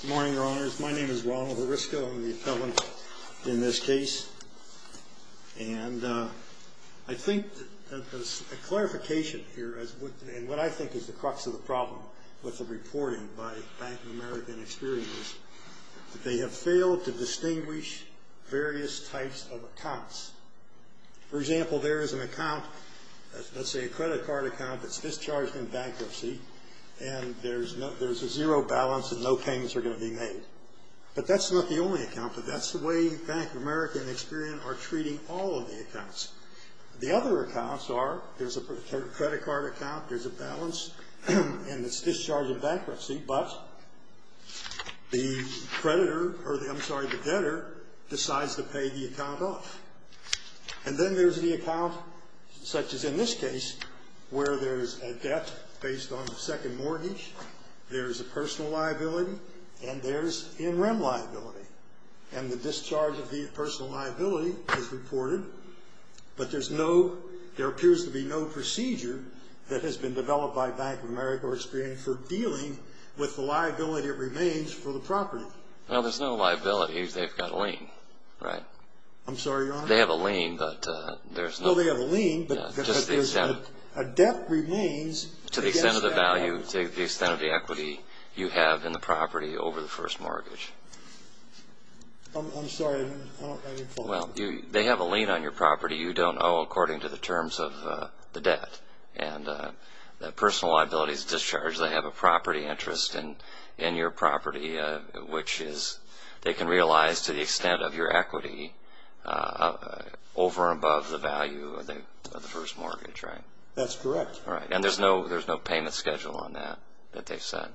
Good morning, Your Honors. My name is Ronald Herisko. I'm the appellant in this case. And I think that there's a clarification here, and what I think is the crux of the problem with the reporting by Bank of America and Experian is that they have failed to distinguish various types of accounts. For example, there is an account, let's say a credit card account that's discharged in bankruptcy, and there's a zero balance and no payments are going to be made. But that's not the only account, but that's the way Bank of America and Experian are treating all of the accounts. The other accounts are, there's a credit card account, there's a balance, and it's discharged in bankruptcy, but the creditor, I'm sorry, the debtor decides to pay the account off. And then there's the account, such as in this case, where there's a debt based on the second mortgage, there's a personal liability, and there's in-rem liability. And the discharge of the personal liability is reported, but there's no, there appears to be no procedure that has been developed by Bank of America or Experian for dealing with the liability that remains for the property. Well, there's no liability. They've got a lien, right? I'm sorry, Your Honor? They have a lien, but there's no... No, they have a lien, but... Just the extent... A debt remains... To the extent of the value, to the extent of the equity you have in the property over the first mortgage. I'm sorry, I didn't follow. Well, they have a lien on your property you don't owe according to the terms of the debt. And the personal liability is discharged. They have a property interest in your property, which is, they can realize to the extent of your equity over and above the value of the first mortgage, right? That's correct. And there's no payment schedule on that, that they've set?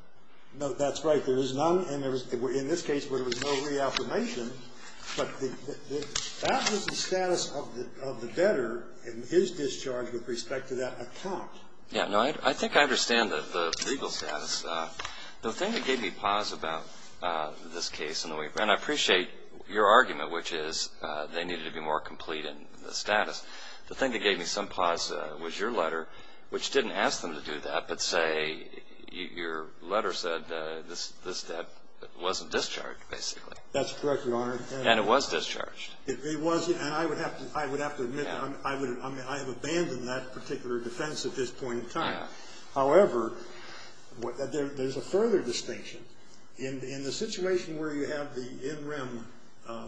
No, that's right. There is none. In this case, there was no reaffirmation, but that was the status of the debtor and his discharge with respect to that account. Yeah, no, I think I understand the legal status. The thing that gave me pause about this case, and I appreciate your argument, which is they needed to be more complete in the status. The thing that gave me some pause was your letter, which didn't ask them to do that, but, say, your letter said this debt wasn't discharged, basically. That's correct, Your Honor. And it was discharged. It was, and I would have to admit, I have abandoned that particular defense at this point in time. However, there's a further distinction. In the situation where you have the in-rim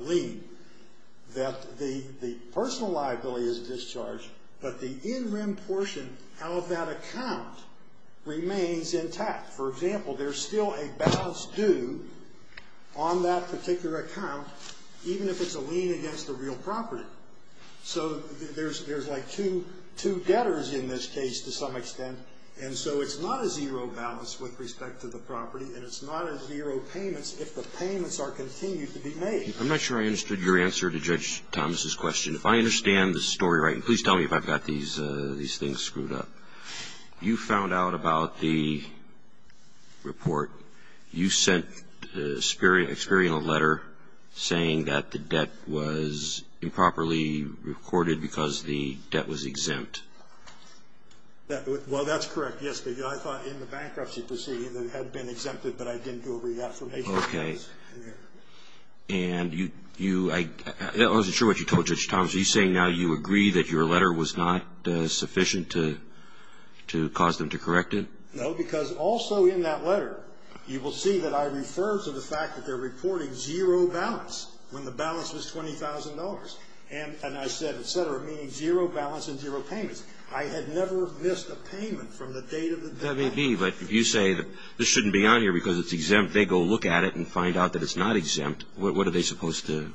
lien, that the personal liability is discharged, but the in-rim portion out of that account remains intact. For example, there's still a balance due on that particular account, even if it's a lien against the real property. So there's, like, two debtors in this case to some extent, and so it's not a zero balance with respect to the property, and it's not a zero payments if the payments are continued to be made. I'm not sure I understood your answer to Judge Thomas' question. If I understand the story right, and please tell me if I've got these things screwed up, you found out about the report. You sent Experian a letter saying that the debt was improperly recorded because the debt was exempt. Well, that's correct, yes, but I thought in the bankruptcy proceeding it had been exempted, but I didn't do a reaffirmation. Okay. And you, I wasn't sure what you told Judge Thomas. Are you saying now you agree that your letter was not sufficient to cause them to correct it? No, because also in that letter you will see that I refer to the fact that they're reporting zero balance when the balance was $20,000, and I said, et cetera, meaning zero balance and zero payments. I had never missed a payment from the date of the balance. That may be, but if you say this shouldn't be on here because it's exempt, they go look at it and find out that it's not exempt, what are they supposed to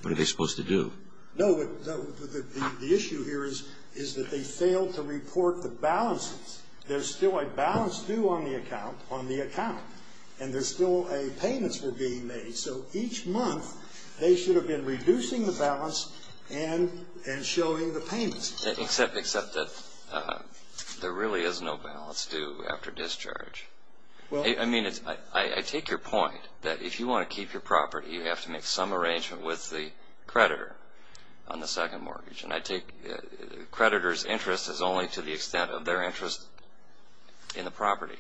do? No, the issue here is that they failed to report the balances. There's still a balance due on the account, and there's still a payments being made, so each month they should have been reducing the balance and showing the payments. Except that there really is no balance due after discharge. I mean, I take your point that if you want to keep your property, you have to make some arrangement with the creditor on the second mortgage, and I take the creditor's interest as only to the extent of their interest in the property,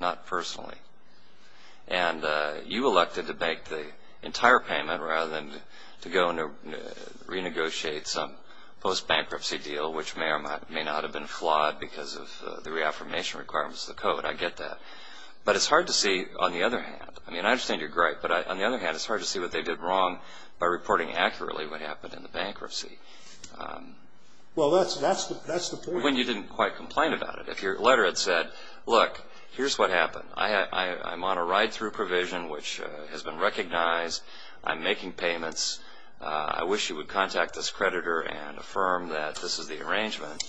not personally. And you elected to make the entire payment rather than to go and renegotiate some post-bankruptcy deal, which may or may not have been flawed because of the reaffirmation requirements of the code. I get that. But it's hard to see, on the other hand, I mean, I understand you're great, but on the other hand, it's hard to see what they did wrong by reporting accurately what happened in the bankruptcy. Well, that's the point. When you didn't quite complain about it. If your letter had said, look, here's what happened. I'm on a ride-through provision, which has been recognized. I'm making payments. I wish you would contact this creditor and affirm that this is the arrangement.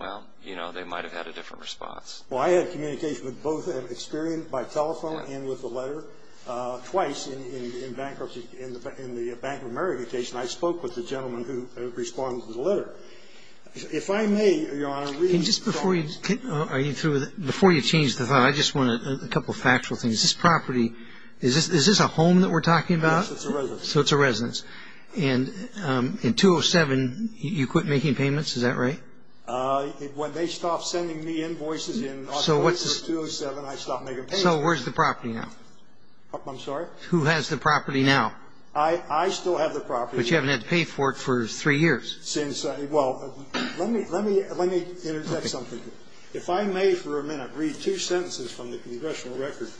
Well, you know, they might have had a different response. Well, I had communication with both an experienced by telephone and with the letter twice in bankruptcy. In the Bank of America case, and I spoke with the gentleman who responded to the letter. If I may, Your Honor, read. Just before you change the thought, I just want a couple of factual things. This property, is this a home that we're talking about? Yes, it's a residence. So it's a residence. And in 207, you quit making payments. Is that right? When they stopped sending me invoices in 207, I stopped making payments. So where's the property now? I'm sorry? Who has the property now? I still have the property. But you haven't had to pay for it for three years. Well, let me interject something here. If I may for a minute read two sentences from the congressional record.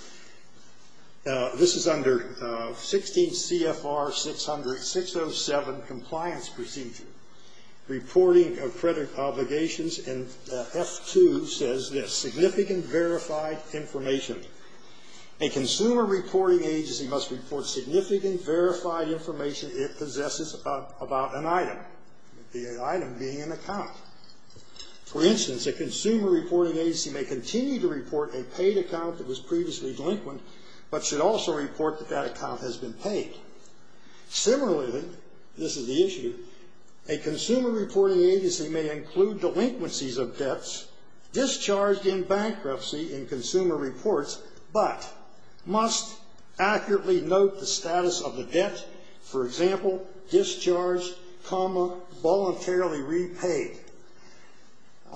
This is under 16 CFR 607, Compliance Procedure. Reporting of credit obligations in F2 says this. Significant verified information. A consumer reporting agency must report significant verified information it possesses about an item. The item being an account. For instance, a consumer reporting agency may continue to report a paid account that was previously delinquent, but should also report that that account has been paid. Similarly, this is the issue. A consumer reporting agency may include delinquencies of debts discharged in bankruptcy in consumer reports, but must accurately note the status of the debt, for example, discharged, comma, voluntarily repaid.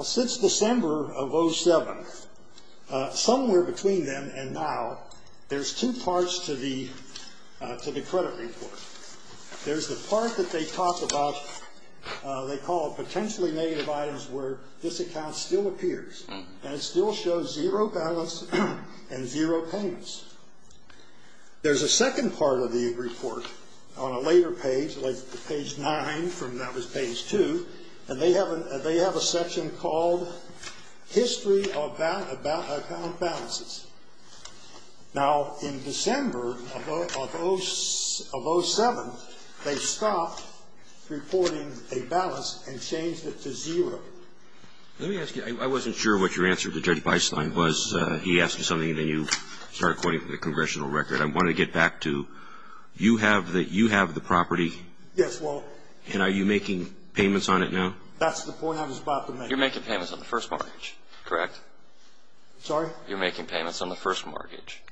Since December of 07, somewhere between then and now, there's two parts to the credit report. There's the part that they talk about they call potentially negative items where this account still appears, and it still shows zero balance and zero payments. There's a second part of the report on a later page, like page 9 from when that was page 2, and they have a section called History of Account Balances. Now, in December of 07, they stopped reporting a balance and changed it to zero. Let me ask you, I wasn't sure what your answer to Judge Beisling was. He asked you something, and then you started quoting from the congressional record. I want to get back to you have the property. Yes, well. And are you making payments on it now? That's the point I was about to make. You're making payments on the first mortgage, correct? Sorry? You're making payments on the first mortgage.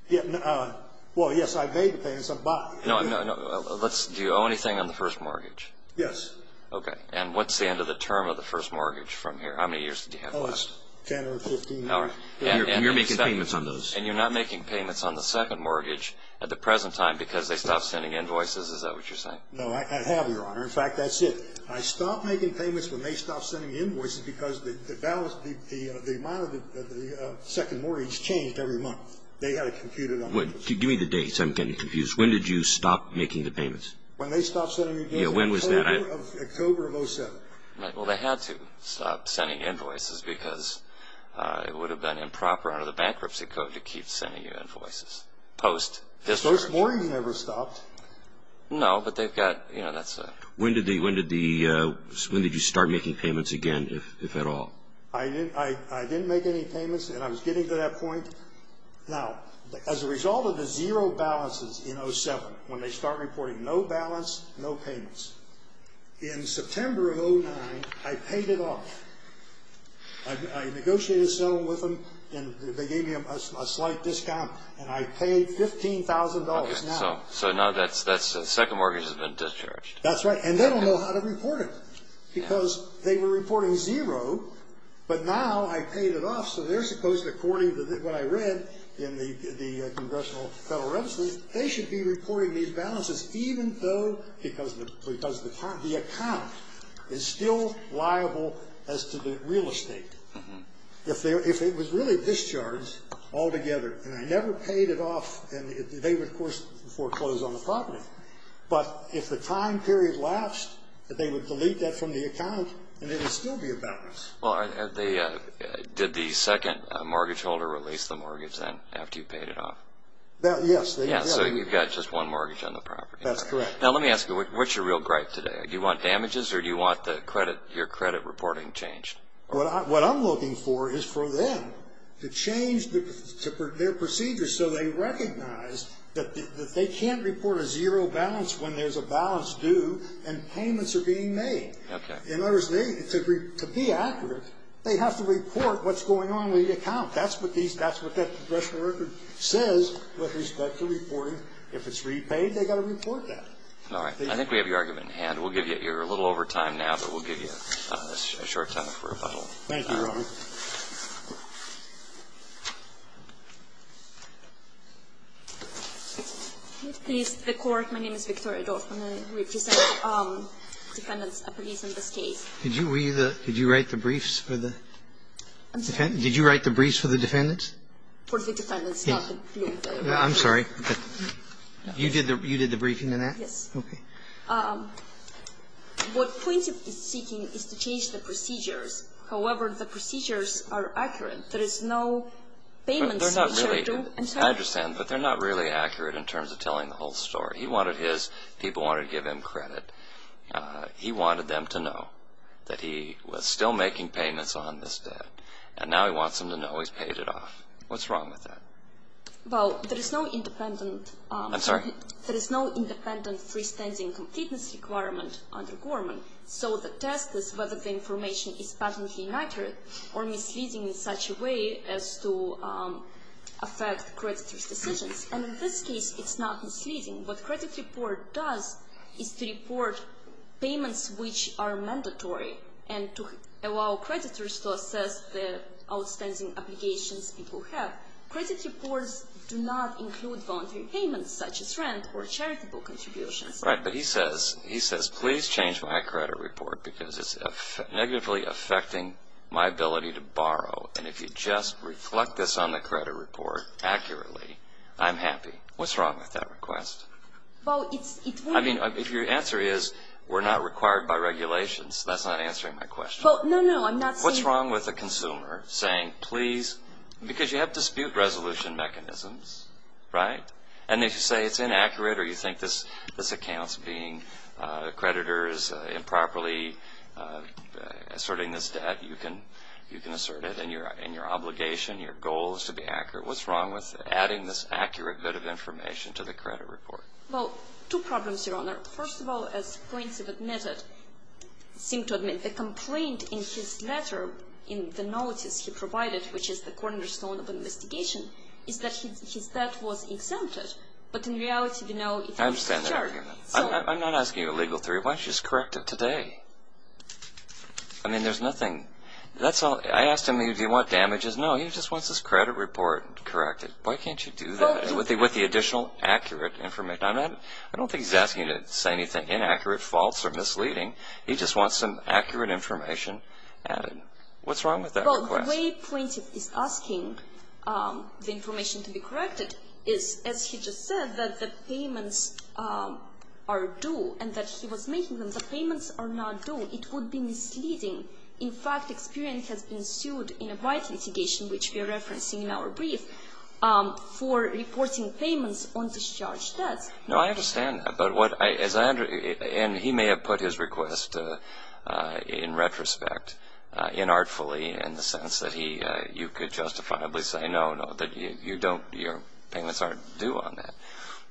Well, yes, I made the payments. I bought it. No, no, no. Do you owe anything on the first mortgage? Yes. Okay. And what's the end of the term of the first mortgage from here? How many years did you have left? Oh, it's 10 or 15. All right. And you're making payments on those. And you're not making payments on the second mortgage at the present time because they stopped sending invoices. Is that what you're saying? No, I have, Your Honor. In fact, that's it. I stopped making payments when they stopped sending invoices because the balance, the amount of the second mortgage changed every month. They had it computed on the first mortgage. Give me the dates. I'm getting confused. When did you stop making the payments? When they stopped sending invoices. Yeah, when was that? October of 2007. Right. Well, they had to stop sending invoices because it would have been improper under the bankruptcy code to keep sending you invoices post this mortgage. First mortgage never stopped. No, but they've got, you know, that's a... When did you start making payments again, if at all? I didn't make any payments, and I was getting to that point. Now, as a result of the zero balances in 2007, when they start reporting no balance, no payments, in September of 2009, I paid it off. I negotiated a settlement with them, and they gave me a slight discount, and I paid $15,000 now. Okay, so now that second mortgage has been discharged. That's right, and they don't know how to report it because they were reporting zero. But now I paid it off, so they're supposed to, according to what I read in the congressional federal registries, they should be reporting these balances even though because the account is still liable as to the real estate. If it was really discharged altogether, and I never paid it off, and they would, of course, foreclose on the property. But if the time period lapsed, they would delete that from the account, and it would still be a balance. Well, did the second mortgage holder release the mortgage then after you paid it off? Yes, they did. Yeah, so you've got just one mortgage on the property. That's correct. Now, let me ask you, what's your real gripe today? Do you want damages, or do you want your credit reporting changed? What I'm looking for is for them to change their procedure so they recognize that they can't report a zero balance when there's a balance due and payments are being made. Okay. In other words, to be accurate, they have to report what's going on with the account. That's what that congressional record says with respect to reporting. If it's repaid, they've got to report that. I think we have your argument in hand. We'll give you a little over time now, but we'll give you a short time for rebuttal. Thank you, Your Honor. Please, the Court, my name is Victoria Dorfman, and I represent defendants of police in this case. Did you write the briefs for the defendants? For the defendants, not the plaintiffs. I'm sorry. You did the briefing on that? Yes. Okay. What plaintiff is seeking is to change the procedures. However, the procedures are accurate. There is no payments. They're not really. I'm sorry. I understand, but they're not really accurate in terms of telling the whole story. He wanted his people wanted to give him credit. He wanted them to know that he was still making payments on this debt, and now he wants them to know he's paid it off. What's wrong with that? Well, there is no independent. I'm sorry? There is no independent freestanding completeness requirement under Gorman, so the test is whether the information is patently inaccurate or misleading in such a way as to affect creditors' decisions. And in this case, it's not misleading. What credit report does is to report payments which are mandatory and to allow creditors to assess the outstanding obligations people have. Credit reports do not include voluntary payments such as rent or charitable contributions. Right, but he says, please change my credit report because it's negatively affecting my ability to borrow, and if you just reflect this on the credit report accurately, I'm happy. What's wrong with that request? Well, it's – I mean, if your answer is we're not required by regulations, that's not answering my question. Well, no, no, I'm not saying – because you have dispute resolution mechanisms, right? And if you say it's inaccurate or you think this account's being – the creditor is improperly asserting this debt, you can assert it. And your obligation, your goal is to be accurate. What's wrong with adding this accurate bit of information to the credit report? Well, two problems, Your Honor. First of all, as points have admitted – seem to admit, the complaint in his letter in the notice he provided, which is the cornerstone of an investigation, is that his debt was exempted. But in reality, you know – I understand that argument. So – I'm not asking you a legal theory. Why don't you just correct it today? I mean, there's nothing – that's all – I asked him, do you want damages? No, he just wants his credit report corrected. Why can't you do that with the additional accurate information? I'm not – I don't think he's asking you to say anything inaccurate, false, or misleading. He just wants some accurate information added. What's wrong with that request? Well, the way plaintiff is asking the information to be corrected is, as he just said, that the payments are due and that he was making them. The payments are not due. It would be misleading. In fact, experience has been sued in a white litigation, which we are referencing in our brief, for reporting payments on discharged debts. No, I understand that. But what – as I – and he may have put his request in retrospect inartfully in the sense that he – you could justifiably say, no, no, that you don't – your payments aren't due on that.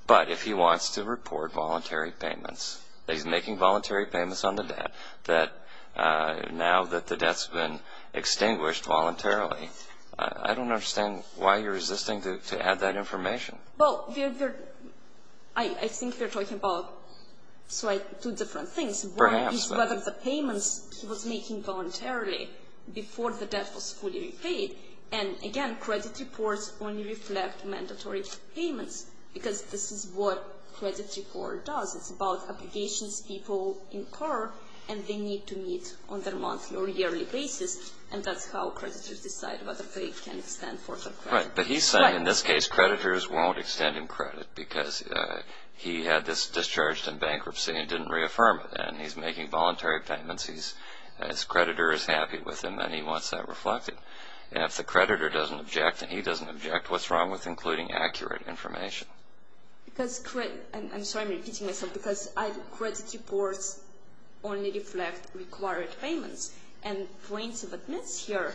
But if he wants to report voluntary payments, that he's making voluntary payments on the debt, that now that the debt's been extinguished voluntarily, I don't understand why you're resisting to add that information. Well, we're – I think we're talking about two different things. Perhaps. One is whether the payments he was making voluntarily before the debt was fully repaid. And, again, credit reports only reflect mandatory payments because this is what credit report does. It's about obligations people incur, and they need to meet on their monthly or yearly basis, and that's how creditors decide whether they can extend for their credit. Right. But he's saying in this case creditors won't extend him credit because he had this discharged in bankruptcy and didn't reaffirm it, and he's making voluntary payments. His creditor is happy with him, and he wants that reflected. And if the creditor doesn't object and he doesn't object, what's wrong with including accurate information? Because credit – I'm sorry, I'm repeating myself. Because credit reports only reflect required payments. And plaintiff admits here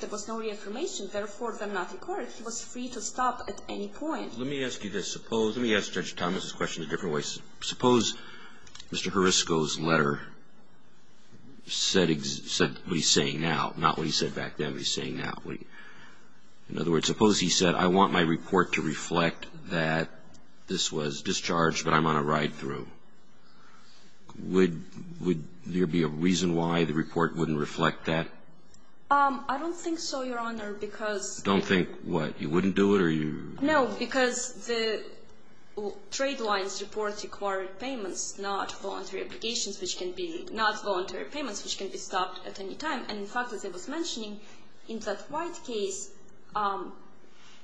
there was no reaffirmation, therefore, they're not required. He was free to stop at any point. Let me ask you this. Suppose – let me ask Judge Thomas's question a different way. Suppose Mr. Hrisko's letter said what he's saying now, not what he said back then, what he's saying now. In other words, suppose he said, I want my report to reflect that this was discharged, but I'm on a ride-through. Would there be a reason why the report wouldn't reflect that? I don't think so, Your Honor, because – Don't think what? You wouldn't do it, or you – No, because the trade lines report required payments, not voluntary applications, which can be – not voluntary payments, which can be stopped at any time. And, in fact, as I was mentioning, in that White case,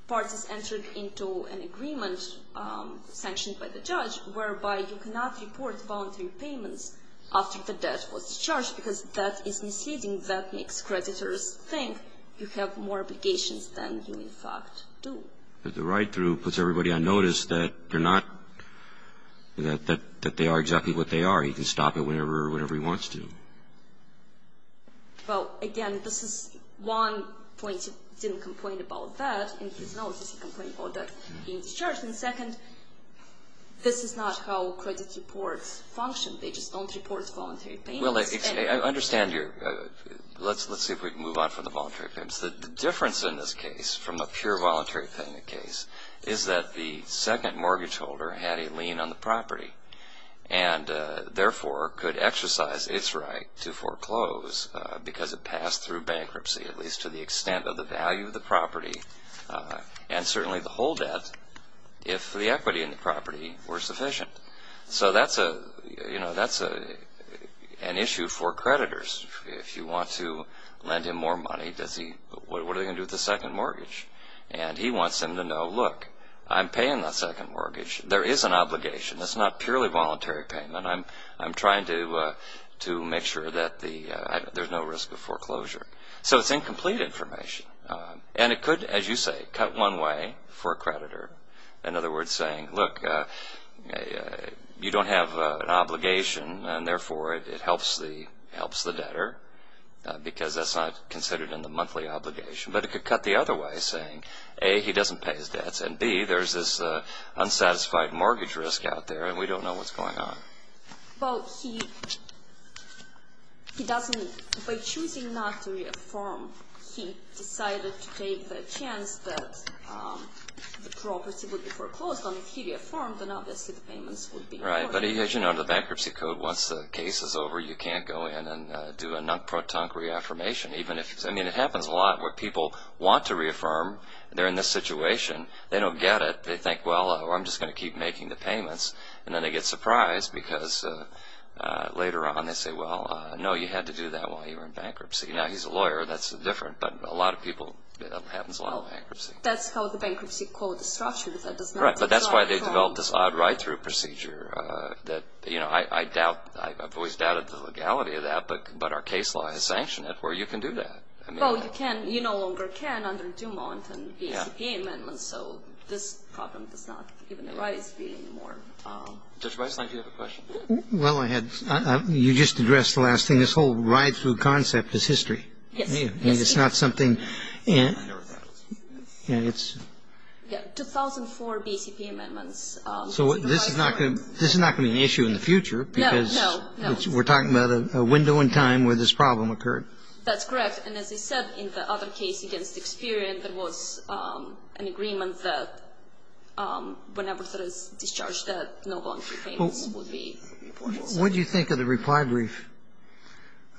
parties entered into an agreement sanctioned by the judge whereby you cannot report voluntary payments after the debt was discharged because that is misleading. That makes creditors think you have more obligations than you, in fact, do. But the ride-through puts everybody on notice that they're not – that they are exactly what they are. Or you can stop it whenever or whatever he wants to. Well, again, this is one point. He didn't complain about that in his notice. He complained about that being discharged. And second, this is not how credit reports function. They just don't report voluntary payments. Well, I understand your – let's see if we can move on from the voluntary payments. The difference in this case from a pure voluntary payment case is that the second mortgage holder had a lien on the property. And, therefore, could exercise its right to foreclose because it passed through bankruptcy, at least to the extent of the value of the property, and certainly the whole debt if the equity in the property were sufficient. So that's a – you know, that's an issue for creditors. If you want to lend him more money, does he – what are they going to do with the second mortgage? And he wants them to know, look, I'm paying that second mortgage. There is an obligation. That's not purely voluntary payment. I'm trying to make sure that the – there's no risk of foreclosure. So it's incomplete information. And it could, as you say, cut one way for a creditor. In other words, saying, look, you don't have an obligation, and, therefore, it helps the debtor because that's not considered in the monthly obligation. But it could cut the other way, saying, A, he doesn't pay his debts, and, B, there's this unsatisfied mortgage risk out there, and we don't know what's going on. Well, he doesn't – by choosing not to reaffirm, he decided to take the chance that the property would be foreclosed. And if he reaffirmed, then obviously the payments would be – Right, but as you know, the bankruptcy code, once the case is over, you can't go in and do a non-protonc reaffirmation, even if – I mean, it happens a lot where people want to reaffirm. They're in this situation. They don't get it. They think, well, I'm just going to keep making the payments. And then they get surprised because later on they say, well, no, you had to do that while you were in bankruptcy. Now, he's a lawyer. That's different. But a lot of people – it happens a lot with bankruptcy. That's how the bankruptcy code is structured. That does not apply for – Right, but that's why they developed this odd right-through procedure that – you know, I doubt – I've always doubted the legality of that. But our case law has sanctioned it where you can do that. Well, you can – you no longer can under Dumont and BCP amendments, so this problem does not even arise anymore. Judge Weislein, do you have a question? Well, I had – you just addressed the last thing. This whole right-through concept is history. Yes. And it's not something – I know that. Yeah, it's – Yeah, 2004 BCP amendments. So this is not going to be an issue in the future because – No, no, no. We're talking about a window in time where this problem occurred. That's correct. And as I said, in the other case against Experian, there was an agreement that whenever there is discharge debt, no voluntary payments would be required. What do you think of the reply brief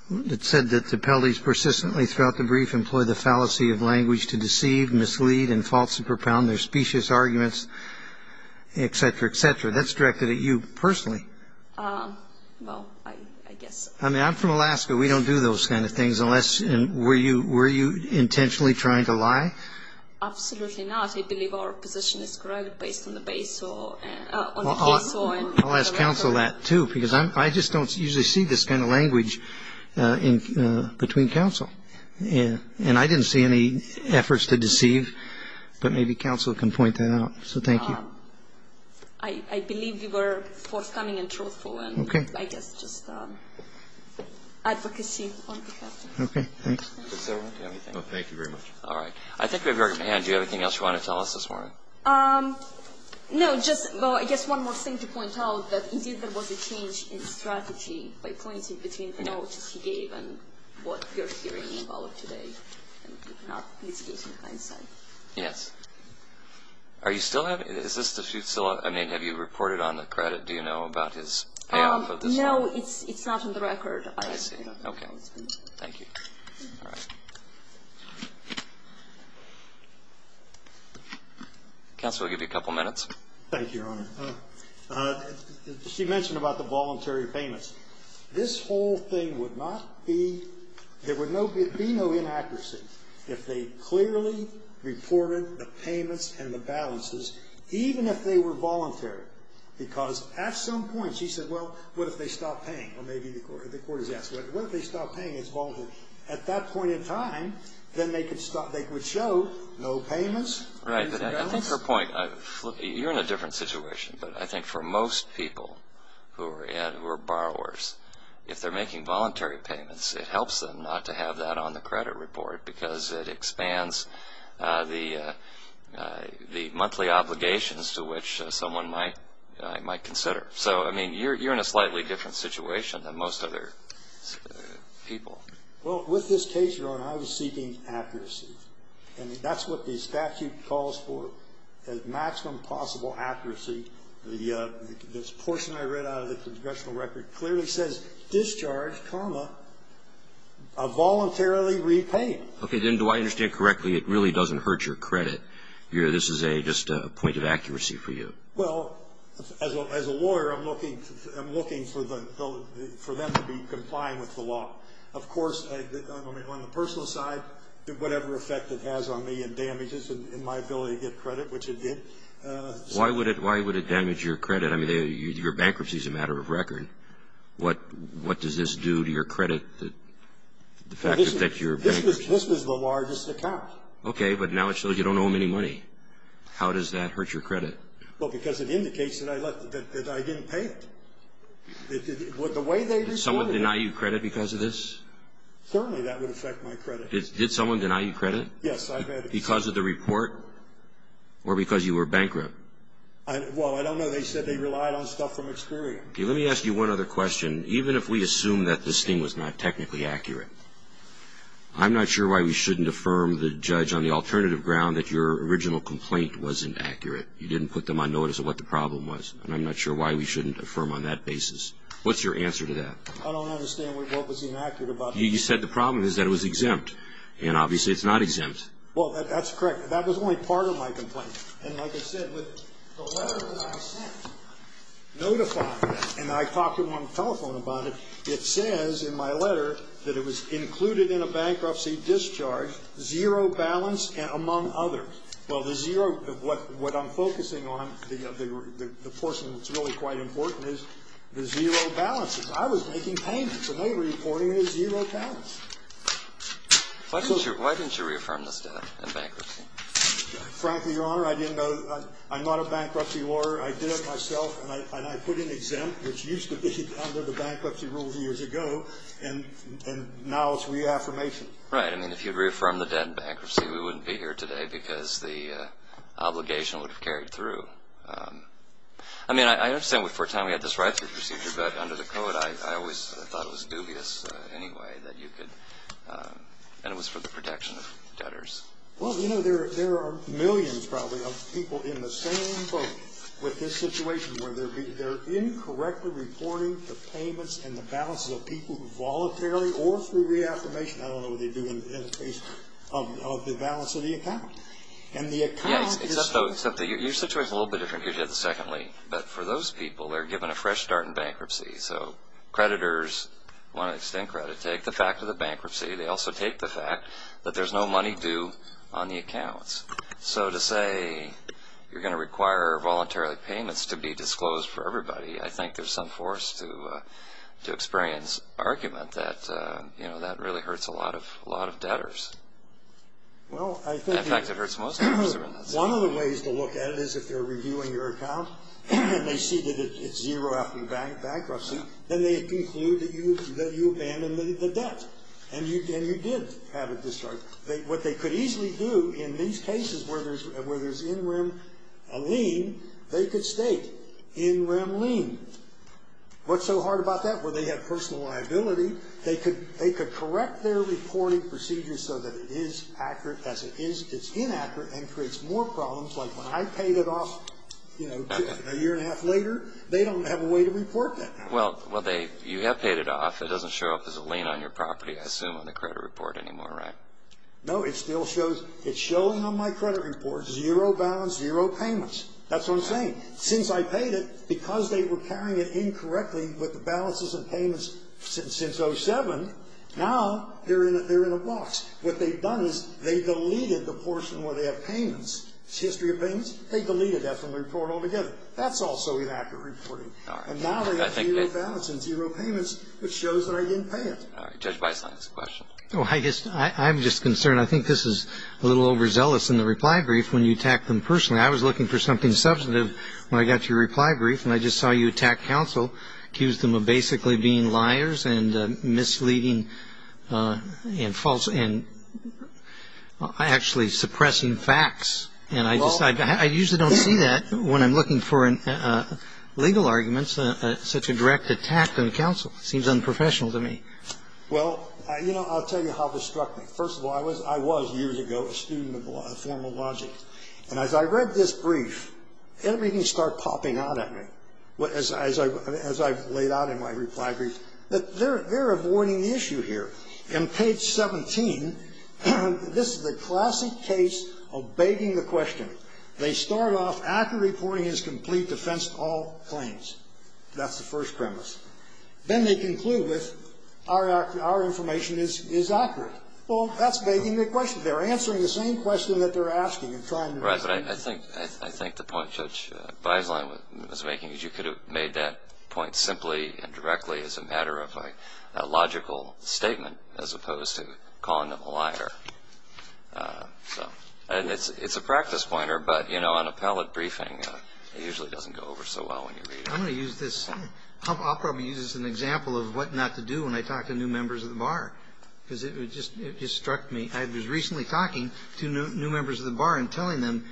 that said that the penalties persistently throughout the brief employ the fallacy of language to deceive, mislead, and falsely propound their specious arguments, et cetera, et cetera? That's directed at you personally. Well, I guess. I mean, I'm from Alaska. We don't do those kind of things unless – and were you intentionally trying to lie? Absolutely not. I believe our position is correct based on the BASO – on the PSO. I'll ask counsel that too because I just don't usually see this kind of language between counsel. And I didn't see any efforts to deceive, but maybe counsel can point that out. So thank you. I believe you were forthcoming and truthful. Okay. I guess just advocacy on behalf of counsel. Okay, thanks. Does everyone have anything? No, thank you very much. All right. I think we have your hand. Do you have anything else you want to tell us this morning? No, just – well, I guess one more thing to point out that indeed there was a change in strategy by pointing between the notes he gave and what you're hearing involved today and not mitigating hindsight. Yes. Are you still having – is this the – I mean, have you reported on the credit? Do you know about his payoff of this one? No, it's not on the record. I see. Okay. Thank you. All right. Counsel, I'll give you a couple minutes. Thank you, Your Honor. She mentioned about the voluntary payments. This whole thing would not be – there would be no inaccuracy if they clearly reported the payments and the balances, even if they were voluntary. Because at some point, she said, well, what if they stop paying? Or maybe the court has asked, what if they stop paying? It's voluntary. At that point in time, then they could show no payments. Right. I think her point – you're in a different situation, but I think for most people who are borrowers, if they're making voluntary payments, it helps them not to have that on the credit report because it expands the monthly obligations to which someone might consider. So, I mean, you're in a slightly different situation than most other people. Well, with this case, Your Honor, I was seeking accuracy. And that's what the statute calls for, is maximum possible accuracy. This portion I read out of the congressional record clearly says discharge, comma, a voluntarily repayment. Okay. Then do I understand correctly it really doesn't hurt your credit? This is just a point of accuracy for you. Well, as a lawyer, I'm looking for them to be complying with the law. Of course, on the personal side, whatever effect it has on me and damages my ability to get credit, which it did. Why would it damage your credit? I mean, your bankruptcy is a matter of record. What does this do to your credit? The fact that your bank – This was the largest account. Okay. But now it shows you don't owe them any money. How does that hurt your credit? Well, because it indicates that I didn't pay them. The way they responded – Did someone deny you credit because of this? Certainly that would affect my credit. Did someone deny you credit? Yes, I've had – Because of the report or because you were bankrupt? Well, I don't know. They said they relied on stuff from experience. Okay. Let me ask you one other question. Even if we assume that this thing was not technically accurate, I'm not sure why we shouldn't affirm the judge on the alternative ground that your original complaint wasn't accurate. You didn't put them on notice of what the problem was, and I'm not sure why we shouldn't affirm on that basis. What's your answer to that? I don't understand what was inaccurate about that. You said the problem is that it was exempt, and obviously it's not exempt. Well, that's correct. That was only part of my complaint. And like I said, with the letter that I sent notifying that, and I talked to them on the telephone about it, it says in my letter that it was included in a bankruptcy discharge, zero balance among others. Well, the zero – what I'm focusing on, the portion that's really quite important is the zero balances. I was making payments, and they were reporting a zero balance. Why didn't you reaffirm this debt in bankruptcy? Frankly, Your Honor, I didn't know. I'm not a bankruptcy lawyer. I did it myself, and I put in exempt, which used to be under the bankruptcy rules years ago, and now it's reaffirmation. Right. I mean, if you'd reaffirmed the debt in bankruptcy, we wouldn't be here today because the obligation would have carried through. I mean, I understand for a time we had this write-through procedure, but under the code I always thought it was dubious anyway that you could – and it was for the protection of debtors. Well, you know, there are millions probably of people in the same boat with this situation where they're incorrectly reporting the payments and the balances of people who voluntarily or through reaffirmation – I don't know what they do in this case – of the balance of the account. And the account is – Yeah, except though – except that your situation is a little bit different than you did secondly. But for those people, they're given a fresh start in bankruptcy. So creditors want to extend credit, take the fact of the bankruptcy. They also take the fact that there's no money due on the accounts. So to say you're going to require voluntary payments to be disclosed for everybody, I think there's some force to experience argument that, you know, that really hurts a lot of debtors. Well, I think – In fact, it hurts most debtors. One of the ways to look at it is if they're reviewing your account and they see that it's zero after the bankruptcy, then they conclude that you abandoned the debt and you did have a discharge. What they could easily do in these cases where there's in rem lien, they could state in rem lien. What's so hard about that? Well, they have personal liability. They could correct their reporting procedures so that it is accurate as it is. It's inaccurate and creates more problems. Like when I paid it off, you know, a year and a half later, they don't have a way to report that. Well, they – you have paid it off. It doesn't show up as a lien on your property, I assume, on the credit report anymore, right? No, it still shows – it's shown on my credit report. Zero balance, zero payments. That's what I'm saying. Since I paid it, because they were carrying it incorrectly with the balances and payments since 1907, now they're in a box. What they've done is they deleted the portion where they have payments. It's history of payments. They deleted that from the report altogether. That's also inaccurate reporting. And now they have zero balance and zero payments, which shows that I didn't pay it. All right. Judge Weiss, last question. Well, I guess I'm just concerned. I think this is a little overzealous in the reply brief when you attack them personally. I was looking for something substantive when I got to your reply brief, and I just saw you attack counsel, accused them of basically being liars and misleading and false – and actually suppressing facts. And I just – I usually don't see that when I'm looking for legal arguments, such a direct attack on counsel. It seems unprofessional to me. Well, you know, I'll tell you how this struck me. First of all, I was years ago a student of formal logic. And as I read this brief, everything started popping out at me. As I've laid out in my reply brief. They're avoiding the issue here. On page 17, this is the classic case of begging the question. They start off, accurate reporting is complete, defense to all claims. That's the first premise. Then they conclude with, our information is accurate. Well, that's begging the question. They're answering the same question that they're asking. Right. But I think the point Judge Weislein was making is you could have made that point simply and directly as a matter of a logical statement as opposed to calling them a liar. So – and it's a practice pointer, but, you know, on a pallet briefing, it usually doesn't go over so well when you read it. I'm going to use this – I'll probably use this as an example of what not to do when I talk to new members of the bar. Because it just struck me. I was recently talking to new members of the bar and telling them,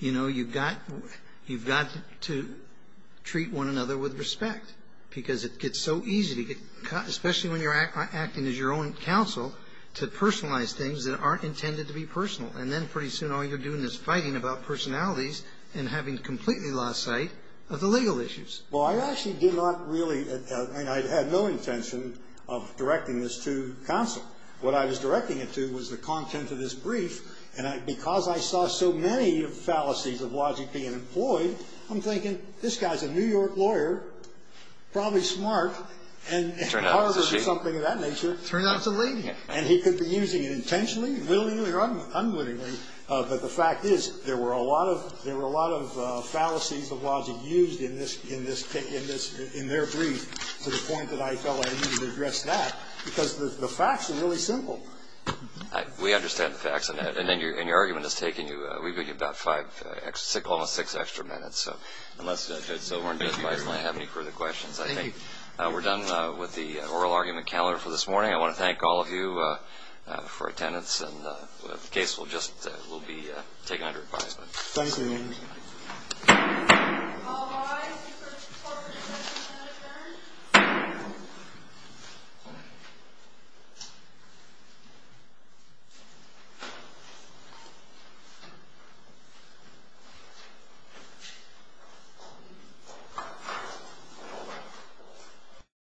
you know, you've got to treat one another with respect. Because it gets so easy to get – especially when you're acting as your own counsel to personalize things that aren't intended to be personal. And then pretty soon all you're doing is fighting about personalities and having completely lost sight of the legal issues. Well, I actually did not really – and I had no intention of directing this to counsel. What I was directing it to was the content of this brief. And because I saw so many fallacies of logic being employed, I'm thinking, this guy's a New York lawyer, probably smart, and Harvard is something of that nature. Turned out it was a lady. And he could be using it intentionally, willingly or unwittingly. But the fact is there were a lot of – there were a lot of fallacies of logic used in this – in this – in their brief to the point that I felt I needed to address that. Because the facts are really simple. We understand the facts. And your argument has taken you – we've given you about five – almost six extra minutes. So unless Judge Silver and Judge Meisner have any further questions, I think we're done with the oral argument calendar for this morning. I want to thank all of you for attendance. And the case will just – will be taken under advisement. Thank you. All rise for the corporate session to adjourn.